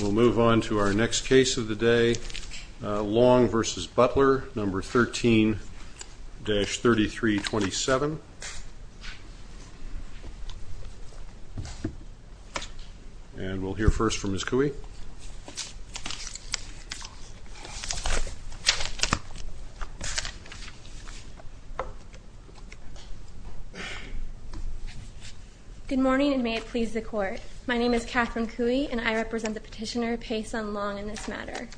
We'll move on to our next case of the day, Long v. Butler, No. 13-3327, and we'll hear Good morning, and may it please the Court. My name is Catherine Cui, and I represent the Petitioner, Paysun Long, in this matter.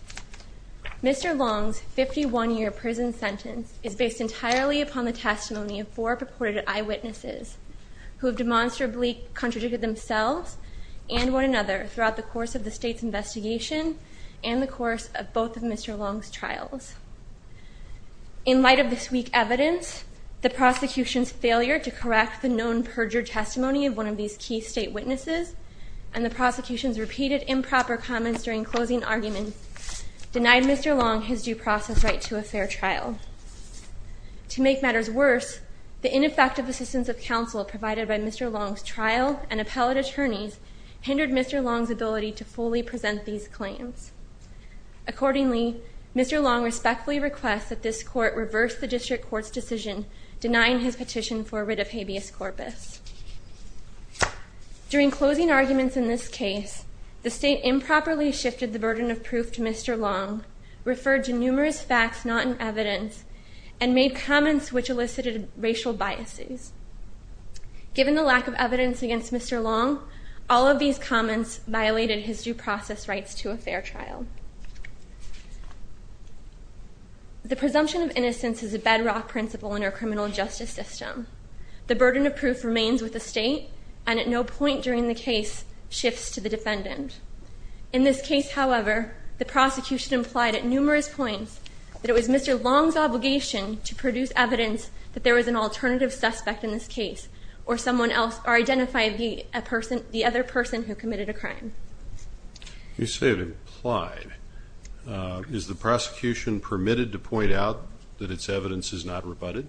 Mr. Long's 51-year prison sentence is based entirely upon the testimony of four purported eyewitnesses who have demonstrably contradicted themselves and one another throughout the course of the State's investigation and the course of both of Mr. Long's trials. In light of this week's evidence, the prosecution's failure to correct the known perjured testimony of one of these key State witnesses, and the prosecution's repeated improper comments during closing arguments, denied Mr. Long his due process right to a fair trial. To make matters worse, the ineffective assistance of counsel provided by Mr. Long's trial and appellate attorneys hindered Mr. Long's ability to fully present these claims. Accordingly, Mr. Long respectfully requests that this Court reverse the District Court's decision denying his petition for writ of habeas corpus. During closing arguments in this case, the State improperly shifted the burden of proof to Mr. Long, referred to numerous facts not in evidence, and made comments which elicited racial biases. Given the lack of evidence against Mr. Long, all of these comments violated his due process rights to a fair trial. The presumption of innocence is a bedrock principle in our criminal justice system. The burden of proof remains with the State, and at no point during the case shifts to the defendant. In this case, however, the prosecution implied at numerous points that it was Mr. Long's obligation to produce evidence that there was an alternative suspect in this case, or identify the other person who committed a crime. You say it implied. Is the prosecution permitted to point out that its evidence is not rebutted,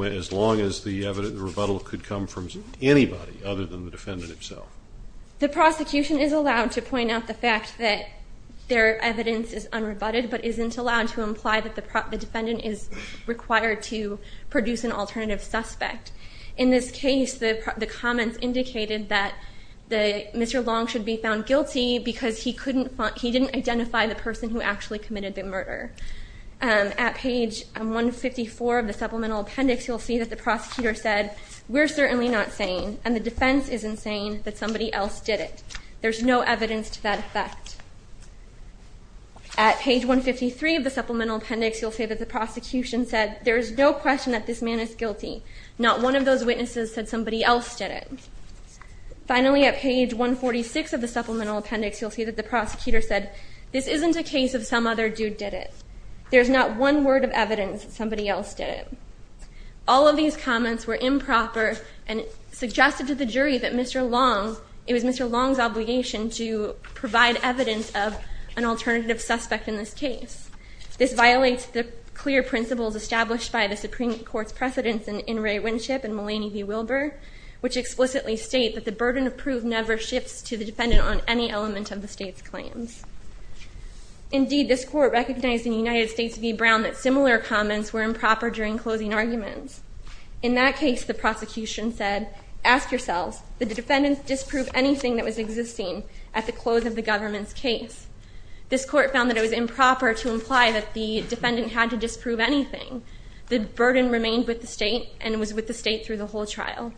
as long as the rebuttal could come from anybody other than the defendant himself? The prosecution is allowed to point out the fact that their evidence is unrebutted, but isn't allowed to imply that the defendant is required to produce an alternative suspect. In this case, the comments indicated that Mr. Long should be found guilty because he didn't identify the person who actually committed the murder. At page 154 of the supplemental appendix, you'll see that the prosecutor said, We're certainly not saying, and the defense isn't saying, that somebody else did it. There's no evidence to that effect. At page 153 of the supplemental appendix, you'll see that the prosecution said, There's no question that this man is guilty. Not one of those witnesses said somebody else did it. Finally, at page 146 of the supplemental appendix, you'll see that the prosecutor said, This isn't a case of some other dude did it. There's not one word of evidence that somebody else did it. All of these comments were improper and suggested to the jury that it was Mr. Long's obligation to provide evidence of an alternative suspect in this case. This violates the clear principles established by the Supreme Court's precedents in In re Winship and Mullaney v. Wilbur, which explicitly state that the burden of proof never shifts to the defendant on any element of the state's claims. Indeed, this court recognized in United States v. Brown that similar comments were improper during closing arguments. In that case, the prosecution said, Ask yourselves, did the defendant disprove anything that was existing at the close of the government's case? This court found that it was improper to imply that the defendant had to disprove anything. The burden remained with the state and was with the state through the whole trial.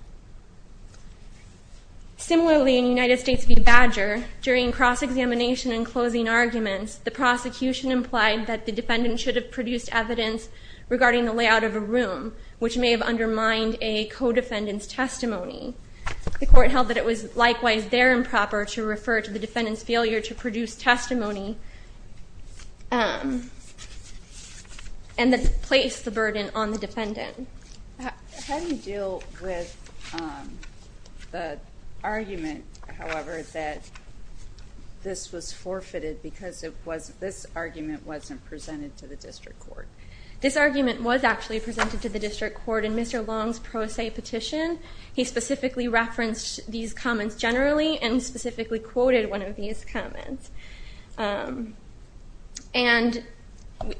Similarly, in United States v. Badger, during cross-examination and closing arguments, the prosecution implied that the defendant should have produced evidence regarding the layout of a room, which may have undermined a co-defendant's testimony. The court held that it was likewise there improper to refer to the defendant's failure to produce testimony and then place the burden on the defendant. How do you deal with the argument, however, that this was forfeited because this argument wasn't presented to the district court? This argument was actually presented to the district court in Mr. Long's pro se petition. He specifically referenced these comments generally and specifically quoted one of these comments. And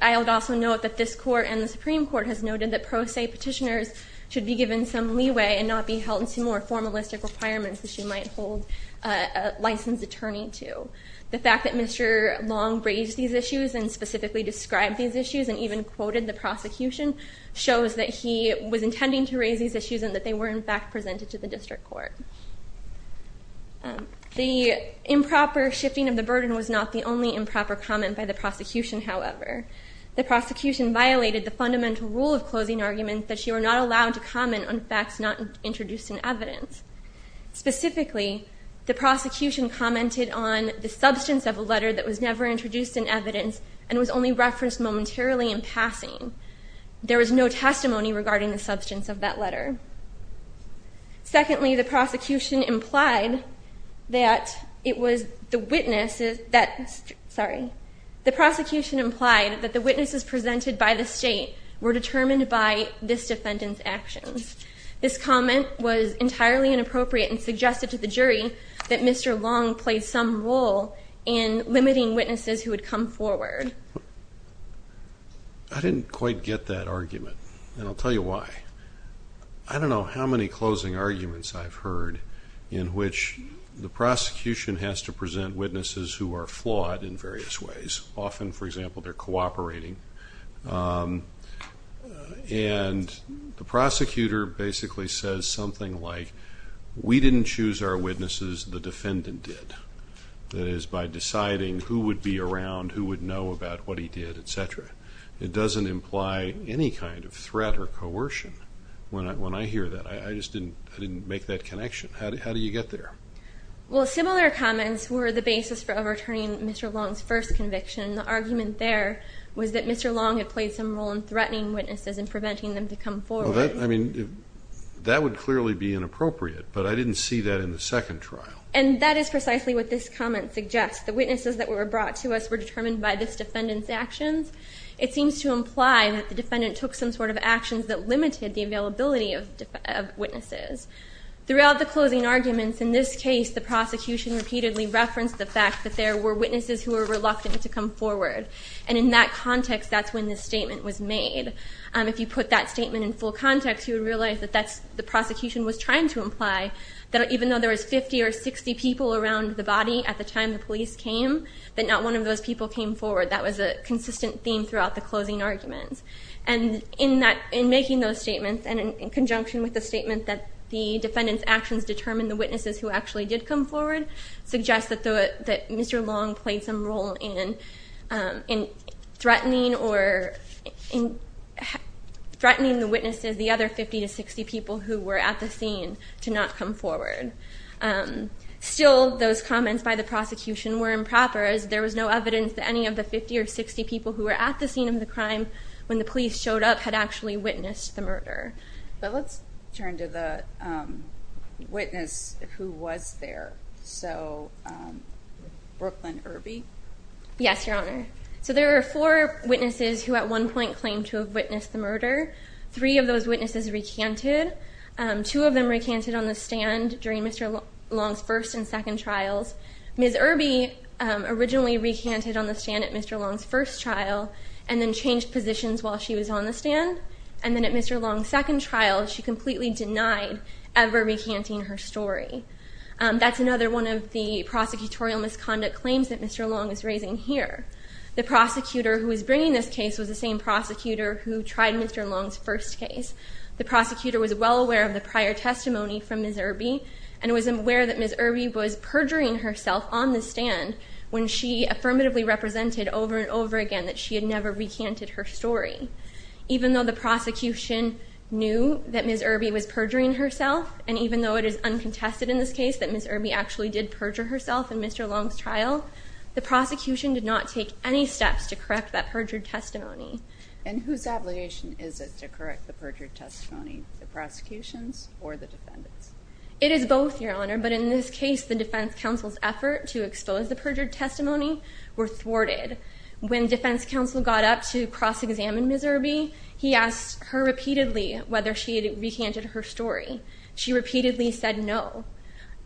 I would also note that this court and the Supreme Court has noted that pro se petitioners should be given some leeway and not be held to more formalistic requirements that you might hold a licensed attorney to. The fact that Mr. Long raised these issues and specifically described these issues and even quoted the prosecution shows that he was intending to raise these issues and that they were in fact presented to the district court. The improper shifting of the burden was not the only improper comment by the prosecution, however. The prosecution violated the fundamental rule of closing arguments that you are not allowed to comment on facts not introduced in evidence. Specifically, the prosecution commented on the substance of a letter that was never introduced in evidence and was only referenced momentarily in passing. There was no testimony regarding the substance of that letter. Secondly, the prosecution implied that the witnesses presented by the state were determined by this defendant's actions. This comment was entirely inappropriate and suggested to the jury that Mr. Long played some role in limiting witnesses who would come forward. I didn't quite get that argument, and I'll tell you why. I don't know how many closing arguments I've heard in which the prosecution has to present witnesses who are flawed in various ways. Often, for example, they're cooperating, and the prosecutor basically says something like, we didn't choose our witnesses, the defendant did. That is, by deciding who would be around, who would know about what he did, et cetera. It doesn't imply any kind of threat or coercion when I hear that. I just didn't make that connection. How do you get there? Well, similar comments were the basis for overturning Mr. Long's first conviction. The argument there was that Mr. Long had played some role in threatening witnesses and preventing them to come forward. I mean, that would clearly be inappropriate, but I didn't see that in the second trial. And that is precisely what this comment suggests. The witnesses that were brought to us were determined by this defendant's actions. It seems to imply that the defendant took some sort of actions that limited the availability of witnesses. Throughout the closing arguments in this case, the prosecution repeatedly referenced the fact that there were witnesses who were reluctant to come forward. And in that context, that's when this statement was made. If you put that statement in full context, you would realize that that's what the prosecution was trying to imply, that even though there was 50 or 60 people around the body at the time the police came, that not one of those people came forward. That was a consistent theme throughout the closing arguments. And in making those statements, and in conjunction with the statement that the defendant's actions determined the witnesses who actually did come forward, suggests that Mr. Long played some role in threatening the witnesses, the other 50 to 60 people who were at the scene, to not come forward. Still, those comments by the prosecution were improper, as there was no evidence that any of the 50 or 60 people who were at the scene of the crime when the police showed up had actually witnessed the murder. But let's turn to the witness who was there. So, Brooklyn Irby. Yes, Your Honor. So there are four witnesses who at one point claimed to have witnessed the murder. Three of those witnesses recanted. Two of them recanted on the stand during Mr. Long's first and second trials. Ms. Irby originally recanted on the stand at Mr. Long's first trial, and then changed positions while she was on the stand. And then at Mr. Long's second trial, she completely denied ever recanting her story. That's another one of the prosecutorial misconduct claims that Mr. Long is raising here. The prosecutor who was bringing this case was the same prosecutor who tried Mr. Long's first case. The prosecutor was well aware of the prior testimony from Ms. Irby, and was aware that Ms. Irby was perjuring herself on the stand when she affirmatively represented over and over again that she had never recanted her story. Even though the prosecution knew that Ms. Irby was perjuring herself, and even though it is uncontested in this case that Ms. Irby actually did perjure herself in Mr. Long's trial, the prosecution did not take any steps to correct that perjured testimony. And whose obligation is it to correct the perjured testimony? The prosecution's or the defendant's? It is both, Your Honor. But in this case, the defense counsel's effort to expose the perjured testimony were thwarted. When defense counsel got up to cross-examine Ms. Irby, he asked her repeatedly whether she had recanted her story. She repeatedly said no.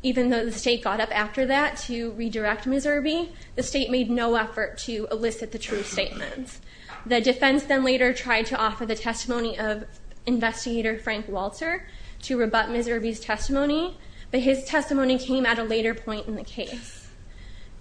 Even though the state got up after that to redirect Ms. Irby, the state made no effort to elicit the true statement. The defense then later tried to offer the testimony of investigator Frank Walter to rebut Ms. Irby's testimony, but his testimony came at a later point in the case.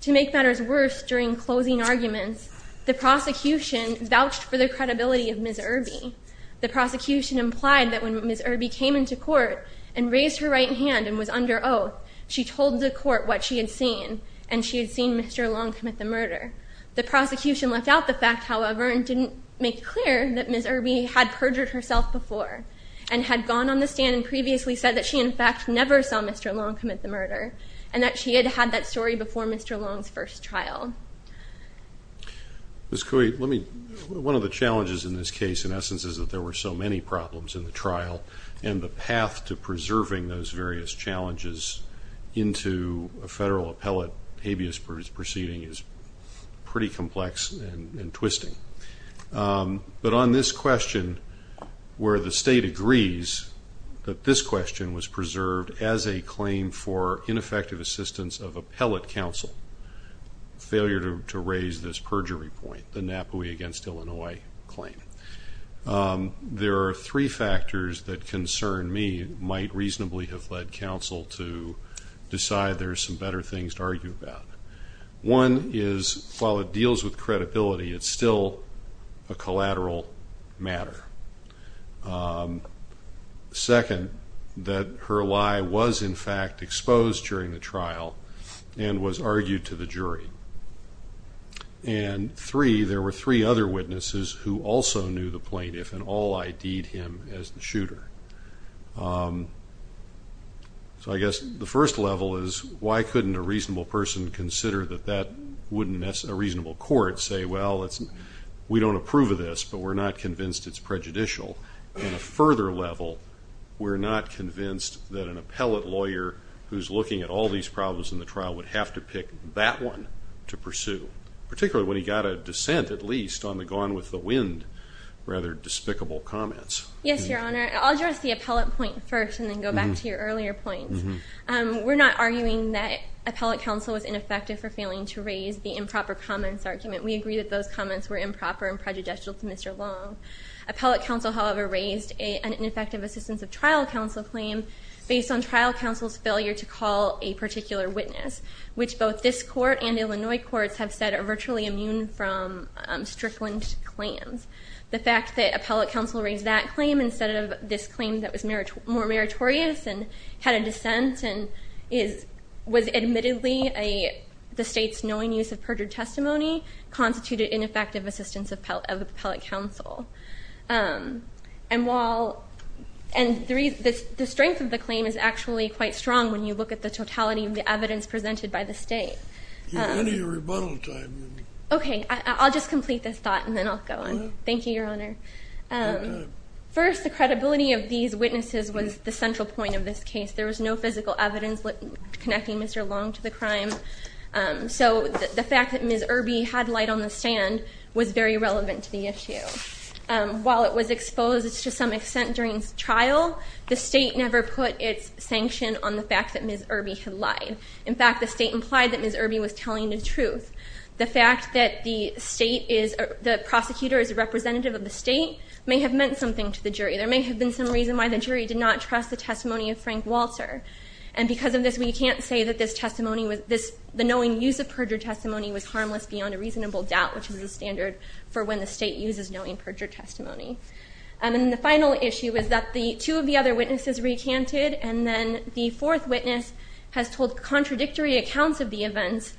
To make matters worse, during closing arguments, the prosecution vouched for the credibility of Ms. Irby. The prosecution implied that when Ms. Irby came into court and raised her right hand and was under oath, she told the court what she had seen, and she had seen Mr. Long commit the murder. The prosecution left out the fact, however, and didn't make clear that Ms. Irby had perjured herself before and had gone on the stand and previously said that she, in fact, never saw Mr. Long commit the murder and that she had had that story before Mr. Long's first trial. Ms. Cui, one of the challenges in this case, in essence, is that there were so many problems in the trial, and the path to preserving those various challenges into a federal appellate habeas proceeding is pretty complex and twisting. But on this question, where the state agrees that this question was preserved as a claim for ineffective assistance of appellate counsel, failure to raise this perjury point, the Napoli against Illinois claim, there are three factors that concern me, might reasonably have led counsel to decide there are some better things to argue about. One is, while it deals with credibility, it's still a collateral matter. Second, that her lie was, in fact, exposed during the trial and was argued to the jury. And three, there were three other witnesses who also knew the plaintiff and all ID'd him as the shooter. So I guess the first level is, why couldn't a reasonable person consider that that wouldn't, as a reasonable court, say, well, we don't approve of this, but we're not convinced it's prejudicial. And a further level, we're not convinced that an appellate lawyer who's looking at all these problems in the trial would have to pick that one to pursue, particularly when he got a dissent, at least, on the gone with the wind rather despicable comments. Yes, Your Honor. I'll address the appellate point first and then go back to your earlier points. We're not arguing that appellate counsel was ineffective for failing to raise the improper comments argument. We agree that those comments were improper and prejudicial to Mr. Long. Appellate counsel, however, raised an ineffective assistance of trial counsel claim based on trial counsel's failure to call a particular witness, which both this court and Illinois courts have said are virtually immune from strickland claims. The fact that appellate counsel raised that claim instead of this claim that was more meritorious and had a dissent and was admittedly the state's knowing use of perjured testimony constituted ineffective assistance of appellate counsel. And the strength of the claim is actually quite strong when you look at the totality of the evidence presented by the state. Any rebuttal time? Okay, I'll just complete this thought and then I'll go on. Thank you, Your Honor. First, the credibility of these witnesses was the central point of this case. There was no physical evidence connecting Mr. Long to the crime. So the fact that Ms. Irby had light on the stand was very relevant to the issue. While it was exposed to some extent during trial, the state never put its sanction on the fact that Ms. Irby had lied. In fact, the state implied that Ms. Irby was telling the truth. The fact that the prosecutor is a representative of the state may have meant something to the jury. There may have been some reason why the jury did not trust the testimony of Frank Walter. And because of this, we can't say that the knowing use of perjured testimony was harmless beyond a reasonable doubt, which is the standard for when the state uses knowing perjured testimony. And the final issue is that two of the other witnesses recanted, and then the fourth witness has told contradictory accounts of the events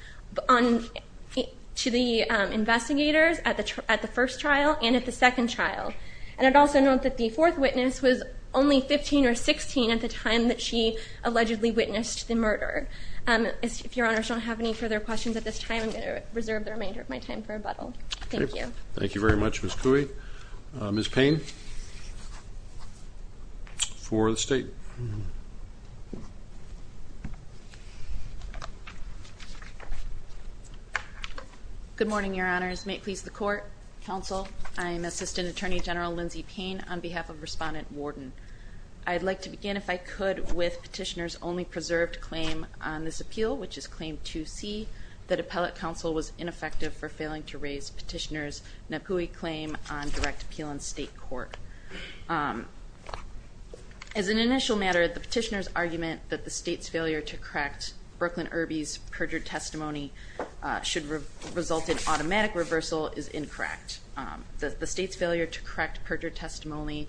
to the investigators at the first trial and at the second trial. And I'd also note that the fourth witness was only 15 or 16 at the time that she allegedly witnessed the murder. If Your Honor shall have any further questions at this time, I'm going to reserve the remainder of my time for rebuttal. Thank you. Thank you very much, Ms. Cooley. Ms. Payne, for the state. Good morning, Your Honors. May it please the Court, Counsel, I'm Assistant Attorney General Lindsay Payne on behalf of Respondent Warden. I'd like to begin, if I could, with Petitioner's only preserved claim on this appeal, which is Claim 2C, that appellate counsel was ineffective for failing to raise Petitioner's NAPUI claim on direct appeal in state court. As an initial matter, the Petitioner's argument that the state's failure to correct Brooklyn Irby's perjured testimony should result in automatic reversal is incorrect. The state's failure to correct perjured testimony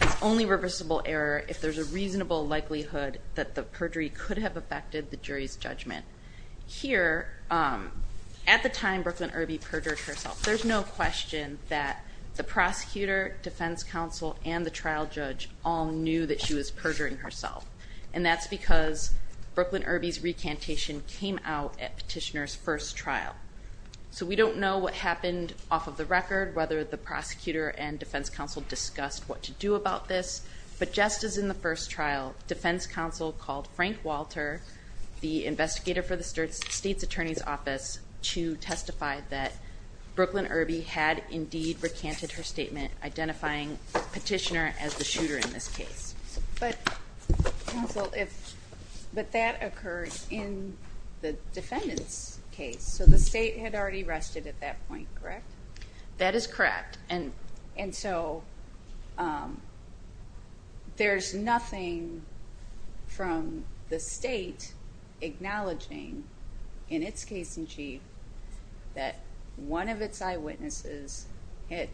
is only reversible error if there's a reasonable likelihood that the perjury could have affected the jury's judgment. Here, at the time Brooklyn Irby perjured herself, there's no question that the prosecutor, defense counsel, and the trial judge all knew that she was perjuring herself. And that's because Brooklyn Irby's recantation came out at Petitioner's first trial. So we don't know what happened off of the record, whether the prosecutor and defense counsel discussed what to do about this, but just as in the first trial, defense counsel called Frank Walter, the investigator for the state's attorney's office, to testify that Brooklyn Irby had indeed recanted her statement, identifying Petitioner as the shooter in this case. But, counsel, if that occurred in the defendant's case, so the state had already rested at that point, correct? That is correct. And so there's nothing from the state acknowledging in its case in chief that one of its eyewitnesses had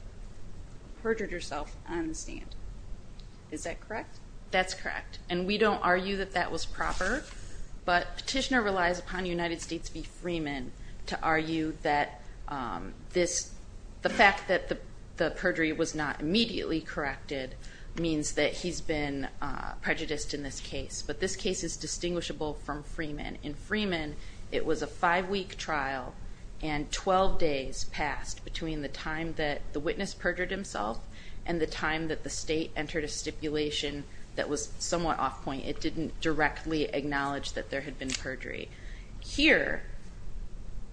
perjured herself on the stand. Is that correct? That's correct. And we don't argue that that was proper, but Petitioner relies upon United States v. Freeman to argue that the fact that the perjury was not immediately corrected means that he's been prejudiced in this case. But this case is distinguishable from Freeman. In Freeman, it was a five-week trial, and 12 days passed between the time that the witness perjured himself and the time that the state entered a stipulation that was somewhat off point. It didn't directly acknowledge that there had been perjury. Here,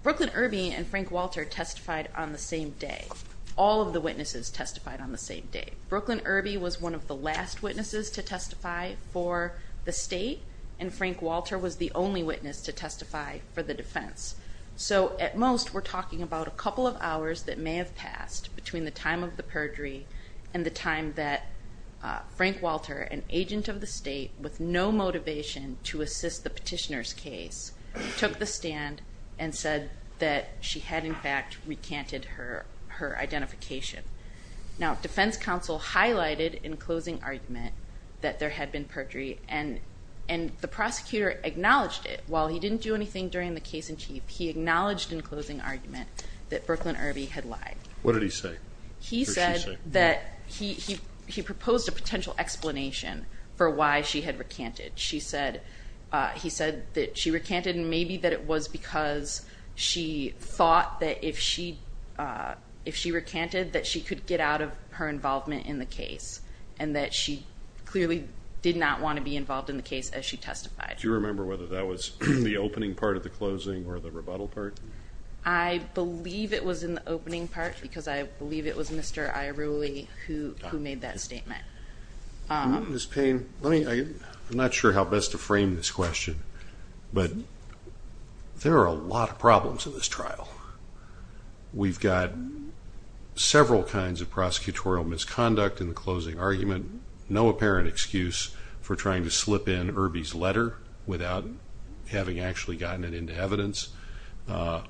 Brooklyn Irby and Frank Walter testified on the same day. All of the witnesses testified on the same day. Brooklyn Irby was one of the last witnesses to testify for the state, and Frank Walter was the only witness to testify for the defense. So at most, we're talking about a couple of hours that may have passed between the time of the perjury and the time that Frank Walter, an agent of the state with no motivation to assist the Petitioner's case, took the stand and said that she had, in fact, recanted her identification. Now, defense counsel highlighted in closing argument that there had been perjury, and the prosecutor acknowledged it. While he didn't do anything during the case in chief, he acknowledged in closing argument that Brooklyn Irby had lied. What did he say? He said that he proposed a potential explanation for why she had recanted. He said that she recanted, and maybe that it was because she thought that if she recanted, that she could get out of her involvement in the case, and that she clearly did not want to be involved in the case as she testified. Do you remember whether that was in the opening part of the closing or the rebuttal part? I believe it was in the opening part because I believe it was Mr. Iruli who made that statement. Ms. Payne, I'm not sure how best to frame this question, but there are a lot of problems in this trial. We've got several kinds of prosecutorial misconduct in the closing argument, no apparent excuse for trying to slip in Irby's letter without having actually gotten it into evidence.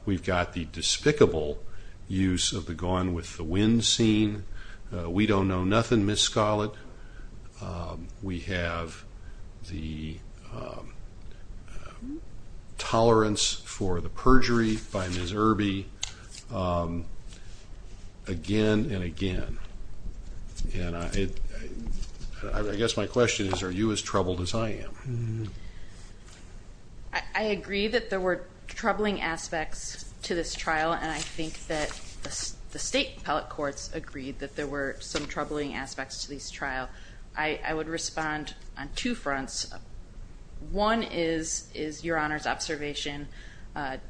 We've got the despicable use of the gun with the wind scene. We don't know nothing, Ms. Scolett. We have the tolerance for the perjury by Ms. Irby again and again. And I guess my question is, are you as troubled as I am? I agree that there were troubling aspects to this trial, and I think that the state appellate courts agreed that there were some troubling aspects to this trial. I would respond on two fronts. One is Your Honor's observation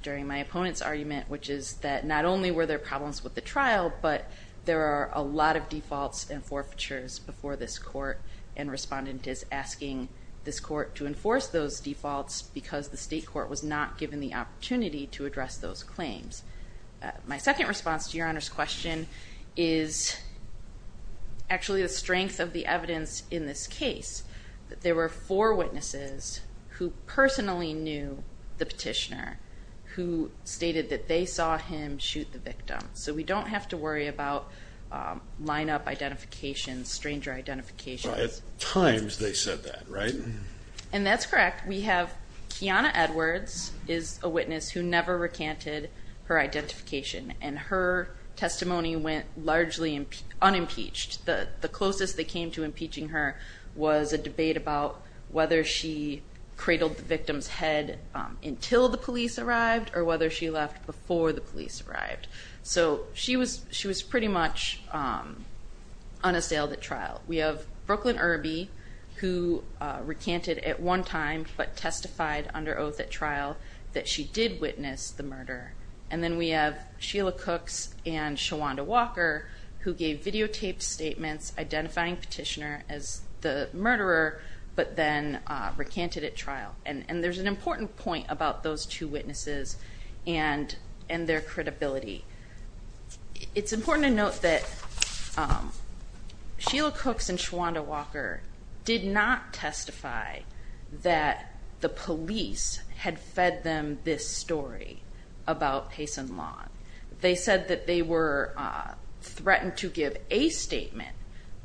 during my opponent's argument, which is that not only were there problems with the trial, but there are a lot of defaults and forfeitures before this court, and Respondent is asking this court to enforce those defaults because the state court was not given the opportunity to address those claims. My second response to Your Honor's question is actually the strength of the evidence in this case, that there were four witnesses who personally knew the petitioner, so we don't have to worry about lineup identification, stranger identification. Well, at times they said that, right? And that's correct. We have Kiana Edwards is a witness who never recanted her identification, and her testimony went largely unimpeached. The closest they came to impeaching her was a debate about whether she cradled the victim's head until the police arrived or whether she left before the police arrived. So she was pretty much unassailed at trial. We have Brooklyn Irby, who recanted at one time but testified under oath at trial that she did witness the murder. And then we have Sheila Cooks and Shawanda Walker, who gave videotaped statements identifying petitioner as the murderer, but then recanted at trial. And there's an important point about those two witnesses and their credibility. It's important to note that Sheila Cooks and Shawanda Walker did not testify that the police had fed them this story about Payson Long. They said that they were threatened to give a statement,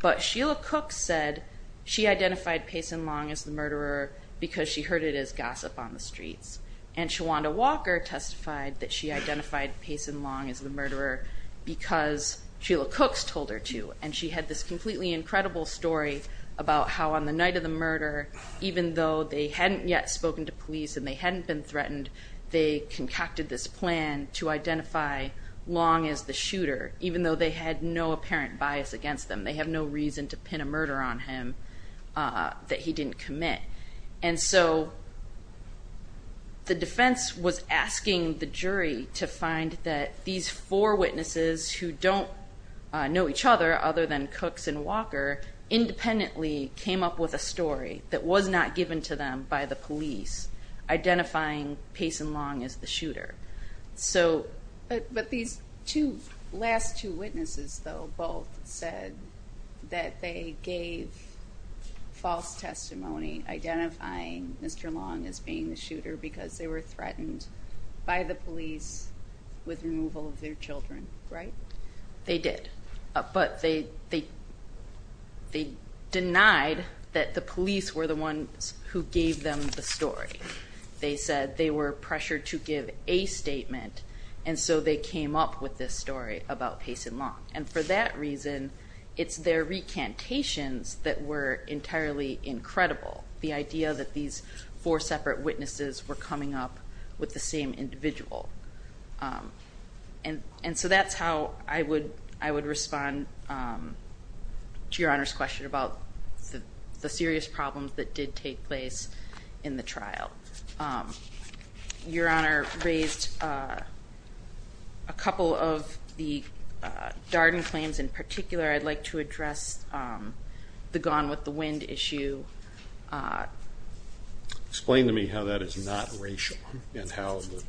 but Sheila Cooks said she identified Payson Long as the murderer because she heard it as gossip on the streets, and Shawanda Walker testified that she identified Payson Long as the murderer because Sheila Cooks told her to, and she had this completely incredible story about how on the night of the murder, even though they hadn't yet spoken to police and they hadn't been threatened, they concocted this plan to identify Long as the shooter, even though they had no apparent bias against them. They have no reason to pin a murder on him that he didn't commit. And so the defense was asking the jury to find that these four witnesses, who don't know each other other than Cooks and Walker, independently came up with a story that was not given to them by the police identifying Payson Long as the shooter. But these last two witnesses, though, both said that they gave false testimony identifying Mr. Long as being the shooter because they were threatened by the police with removal of their children, right? They did, but they denied that the police were the ones who gave them the story. They said they were pressured to give a statement, and so they came up with this story about Payson Long. And for that reason, it's their recantations that were entirely incredible, the idea that these four separate witnesses were coming up with the same individual. And so that's how I would respond to Your Honor's question about the serious problems that did take place in the trial. Your Honor raised a couple of the Darden claims in particular. I'd like to address the gone with the wind issue. Explain to me how that is not racial and how the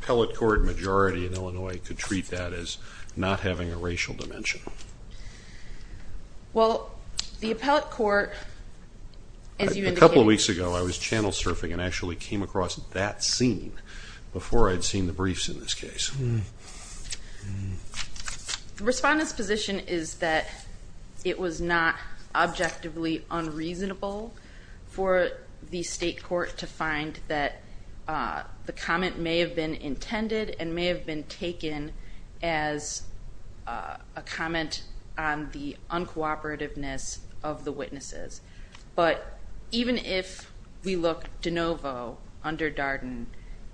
appellate court majority in Illinois could treat that as not having a racial dimension. Well, the appellate court, as you indicated- A couple of weeks ago, I was channel surfing and actually came across that scene before I'd seen the briefs in this case. The respondent's position is that it was not objectively unreasonable for the state court to find that the comment may have been intended and may have been taken as a comment on the uncooperativeness of the witnesses. But even if we look de novo under Darden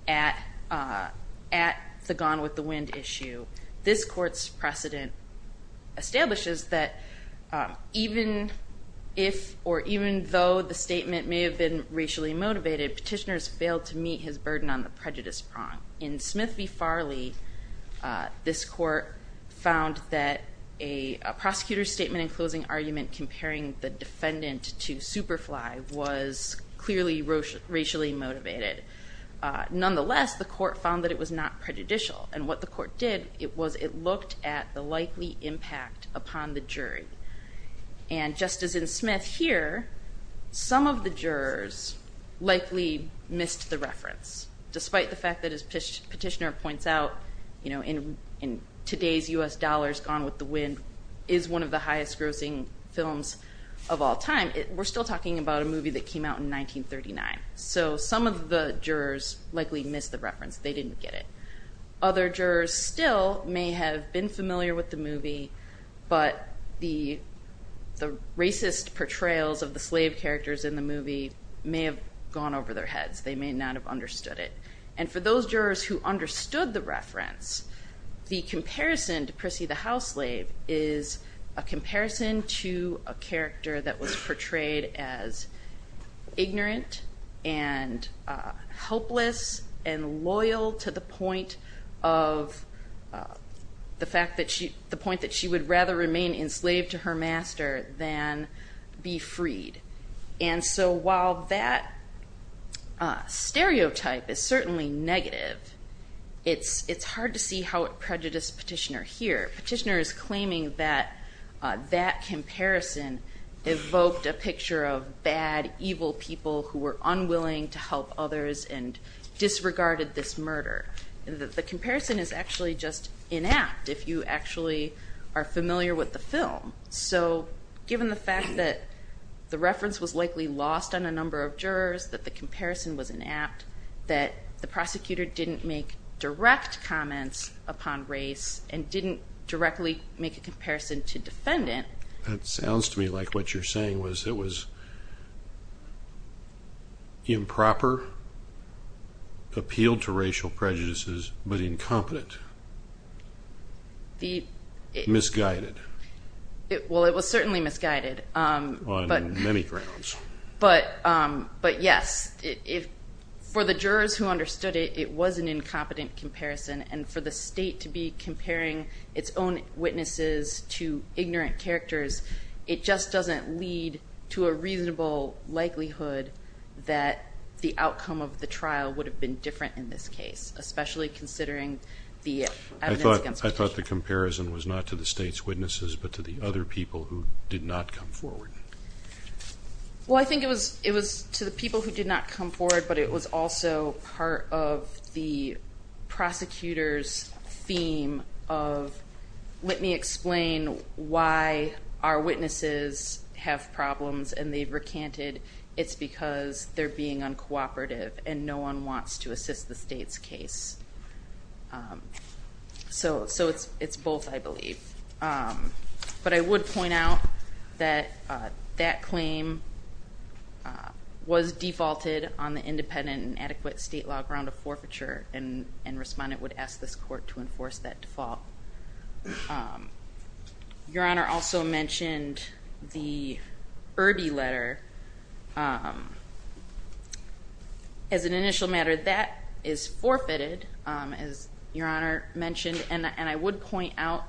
at the gone with the wind issue, this court's precedent establishes that even if or even though the statement may have been racially motivated, petitioners failed to meet his burden on the prejudice prong. In Smith v. Farley, this court found that a prosecutor's statement and closing argument comparing the defendant to Superfly was clearly racially motivated. Nonetheless, the court found that it was not prejudicial. And what the court did was it looked at the likely impact upon the jury. And just as in Smith here, some of the jurors likely missed the reference. Despite the fact that as Petitioner points out, in today's U.S. dollars, Gone with the Wind is one of the highest grossing films of all time. We're still talking about a movie that came out in 1939. So some of the jurors likely missed the reference. They didn't get it. Other jurors still may have been familiar with the movie, but the racist portrayals of the slave characters in the movie may have gone over their heads. They may not have understood it. And for those jurors who understood the reference, the comparison to Prissy the house slave is a comparison to a character that was portrayed as ignorant and helpless and loyal to the point of the fact that she would rather remain enslaved to her master than be freed. And so while that stereotype is certainly negative, it's hard to see how it prejudiced Petitioner here. Petitioner is claiming that that comparison evoked a picture of bad, evil people who were unwilling to help others and disregarded this murder. The comparison is actually just inact if you actually are familiar with the film. So given the fact that the reference was likely lost on a number of jurors, that the comparison was inapt, that the prosecutor didn't make direct comments upon race and didn't directly make a comparison to defendant. That sounds to me like what you're saying was it was improper, appealed to racial prejudices, but incompetent, misguided. Well, it was certainly misguided. On many grounds. But yes, for the jurors who understood it, it was an incompetent comparison. And for the state to be comparing its own witnesses to ignorant characters, it just doesn't lead to a reasonable likelihood that the outcome of the trial would have been different in this case, especially considering the evidence against Petitioner. I thought the comparison was not to the state's witnesses, but to the other people who did not come forward. Well, I think it was to the people who did not come forward, but it was also part of the prosecutor's theme of let me explain why our witnesses have problems and they've recanted it's because they're being uncooperative and no one wants to assist the state's case. So it's both, I believe. But I would point out that that claim was defaulted on the independent and adequate state law ground of forfeiture and respondent would ask this court to enforce that default. Your Honor also mentioned the Irby letter. As an initial matter, that is forfeited, as Your Honor mentioned, and I would point out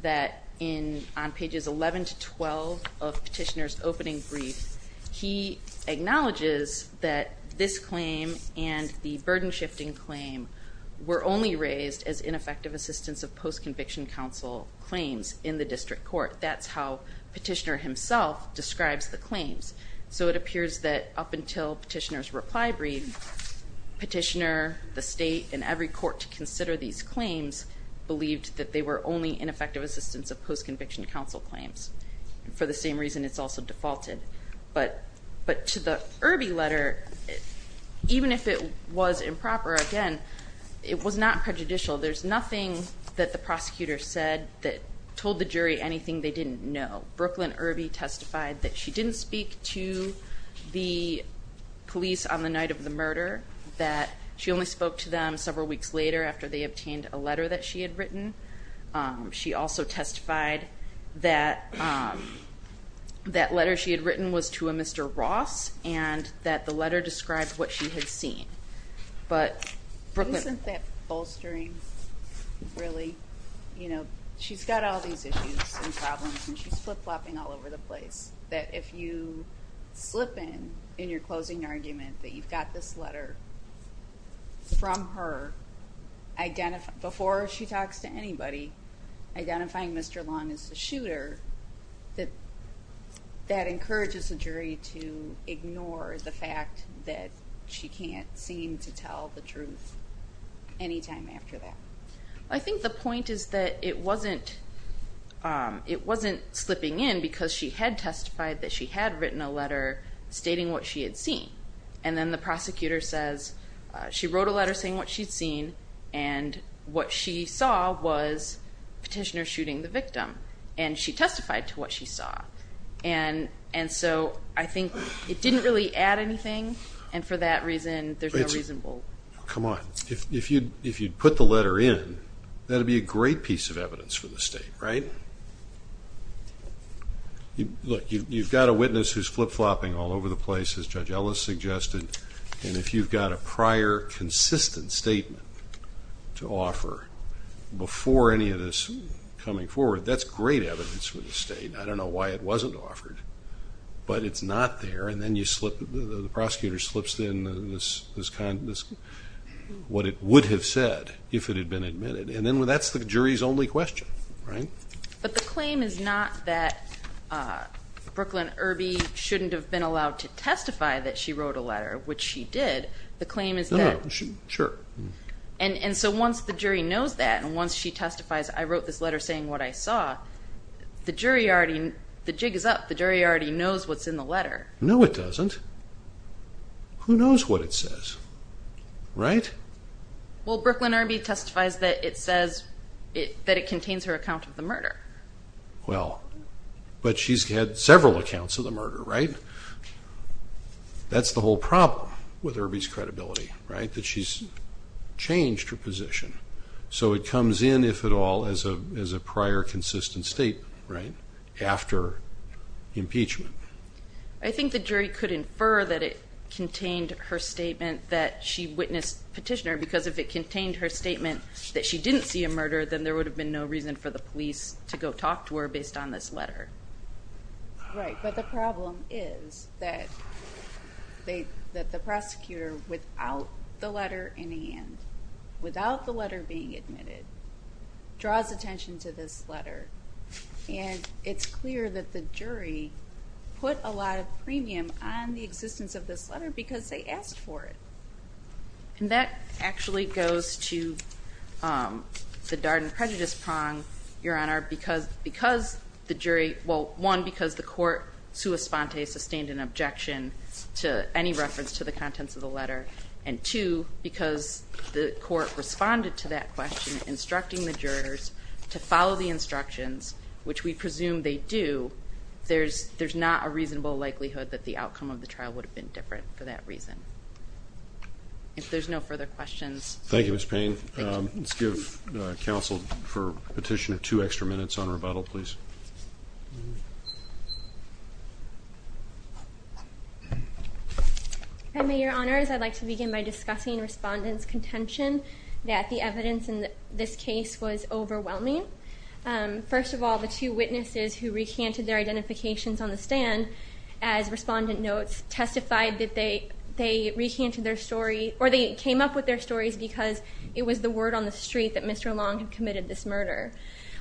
that on pages 11 to 12 of Petitioner's opening brief, he acknowledges that this claim and the burden shifting claim were only raised as ineffective assistance of post-conviction counsel claims in the district court. That's how Petitioner himself describes the claims. So it appears that up until Petitioner's reply brief, Petitioner, the state, and every court to consider these claims believed that they were only ineffective assistance of post-conviction counsel claims. For the same reason, it's also defaulted. But to the Irby letter, even if it was improper, again, it was not prejudicial. There's nothing that the prosecutor said that told the jury anything they didn't know. Brooklyn Irby testified that she didn't speak to the police on the night of the murder, that she only spoke to them several weeks later after they obtained a letter that she had written. She also testified that that letter she had written was to a Mr. Ross and that the letter described what she had seen. But Brooklyn- Isn't that bolstering, really? You know, she's got all these issues and problems and she's flip-flopping all over the place. That if you slip in, in your closing argument, that you've got this letter from her, before she talks to anybody, identifying Mr. Long as the shooter, that encourages the jury to ignore the fact that she can't seem to tell the truth any time after that. I think the point is that it wasn't slipping in because she had testified that she had written a letter stating what she had seen. And then the prosecutor says she wrote a letter saying what she'd seen and what she saw was petitioners shooting the victim. And she testified to what she saw. And so I think it didn't really add anything. And for that reason, there's no reason we'll- If you'd put the letter in, that would be a great piece of evidence for the state, right? Look, you've got a witness who's flip-flopping all over the place, as Judge Ellis suggested. And if you've got a prior, consistent statement to offer before any of this coming forward, that's great evidence for the state. I don't know why it wasn't offered. But it's not there, and then the prosecutor slips in what it would have said if it had been admitted. And then that's the jury's only question, right? But the claim is not that Brooklyn Irby shouldn't have been allowed to testify that she wrote a letter, which she did. The claim is that- No, sure. And so once the jury knows that, and once she testifies, I wrote this letter saying what I saw, the jury already- the jig is up. The jury already knows what's in the letter. No, it doesn't. Who knows what it says? Right? Well, Brooklyn Irby testifies that it says that it contains her account of the murder. Well, but she's had several accounts of the murder, right? That's the whole problem with Irby's credibility, right? That she's changed her position. So it comes in, if at all, as a prior consistent statement, right, after impeachment. I think the jury could infer that it contained her statement that she witnessed petitioner, because if it contained her statement that she didn't see a murder, then there would have been no reason for the police to go talk to her based on this letter. Right, but the problem is that the prosecutor, without the letter in hand, without the letter being admitted, draws attention to this letter, and it's clear that the jury put a lot of premium on the existence of this letter because they asked for it. And that actually goes to the Darden prejudice prong, Your Honor, because the jury- well, one, because the court sua sponte sustained an objection And two, because the court responded to that question, instructing the jurors to follow the instructions, which we presume they do, there's not a reasonable likelihood that the outcome of the trial would have been different for that reason. If there's no further questions- Thank you, Ms. Payne. Let's give counsel for petitioner two extra minutes on rebuttal, please. I may, Your Honors, I'd like to begin by discussing respondents' contention that the evidence in this case was overwhelming. First of all, the two witnesses who recanted their identifications on the stand, as respondent notes, testified that they recanted their story, or they came up with their stories because it was the word on the street that Mr. Long had committed this murder.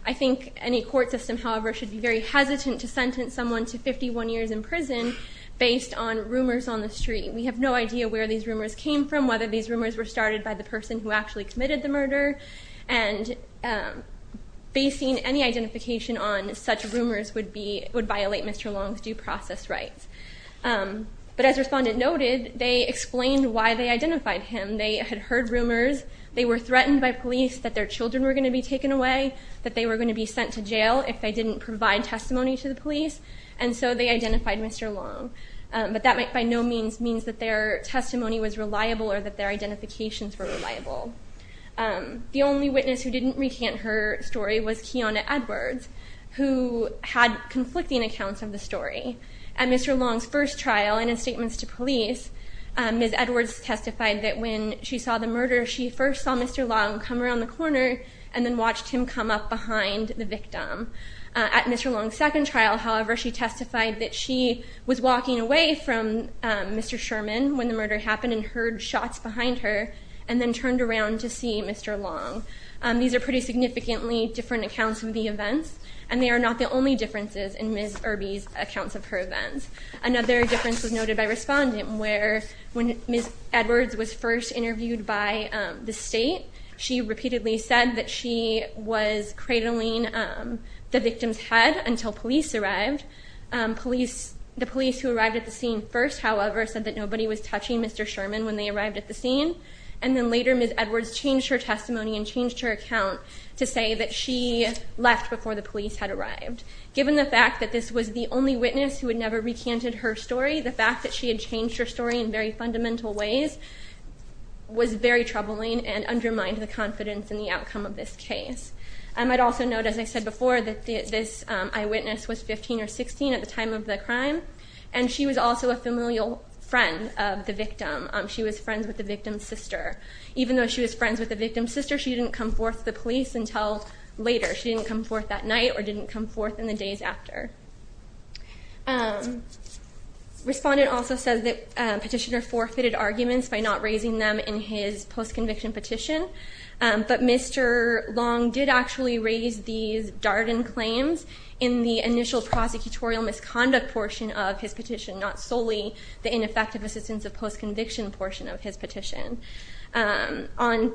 I think any court system, however, should be very hesitant to sentence someone to 51 years in prison based on rumors on the street. We have no idea where these rumors came from, whether these rumors were started by the person who actually committed the murder, and basing any identification on such rumors would violate Mr. Long's due process rights. But as respondent noted, they explained why they identified him. They had heard rumors. They were threatened by police that their children were going to be taken away, that they were going to be sent to jail if they didn't provide testimony to the police, and so they identified Mr. Long. But that by no means means that their testimony was reliable or that their identifications were reliable. The only witness who didn't recant her story was Keona Edwards, who had conflicting accounts of the story. At Mr. Long's first trial and in statements to police, Ms. Edwards testified that when she saw the murder, she first saw Mr. Long come around the corner and then watched him come up behind the victim. At Mr. Long's second trial, however, she testified that she was walking away from Mr. Sherman when the murder happened and heard shots behind her and then turned around to see Mr. Long. These are pretty significantly different accounts of the events, and they are not the only differences in Ms. Irby's accounts of her events. Another difference was noted by respondent, where when Ms. Edwards was first interviewed by the state, she repeatedly said that she was cradling the victim's head until police arrived. The police who arrived at the scene first, however, said that nobody was touching Mr. Sherman when they arrived at the scene, and then later Ms. Edwards changed her testimony and changed her account to say that she left before the police had arrived. Given the fact that this was the only witness who had never recanted her story, the fact that she had changed her story in very fundamental ways was very troubling and undermined the confidence in the outcome of this case. I might also note, as I said before, that this eyewitness was 15 or 16 at the time of the crime, and she was also a familial friend of the victim. She was friends with the victim's sister. Even though she was friends with the victim's sister, she didn't come forth to the police until later. She didn't come forth that night or didn't come forth in the days after. Respondent also says that petitioner forfeited arguments by not raising them in his post-conviction petition, but Mr. Long did actually raise these Darden claims in the initial prosecutorial misconduct portion of his petition, not solely the ineffective assistance of post-conviction portion of his petition. On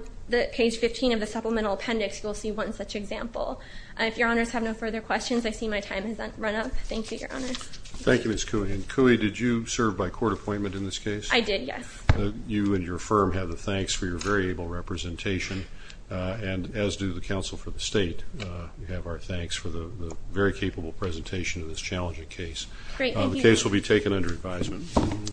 page 15 of the supplemental appendix, you'll see one such example. If your honors have no further questions, I see my time has run up. Thank you, your honors. Thank you, Ms. Cui. And, Cui, did you serve by court appointment in this case? I did, yes. You and your firm have the thanks for your very able representation, and as do the counsel for the state. We have our thanks for the very capable presentation of this challenging case. Great, thank you. The case will be taken under advisement.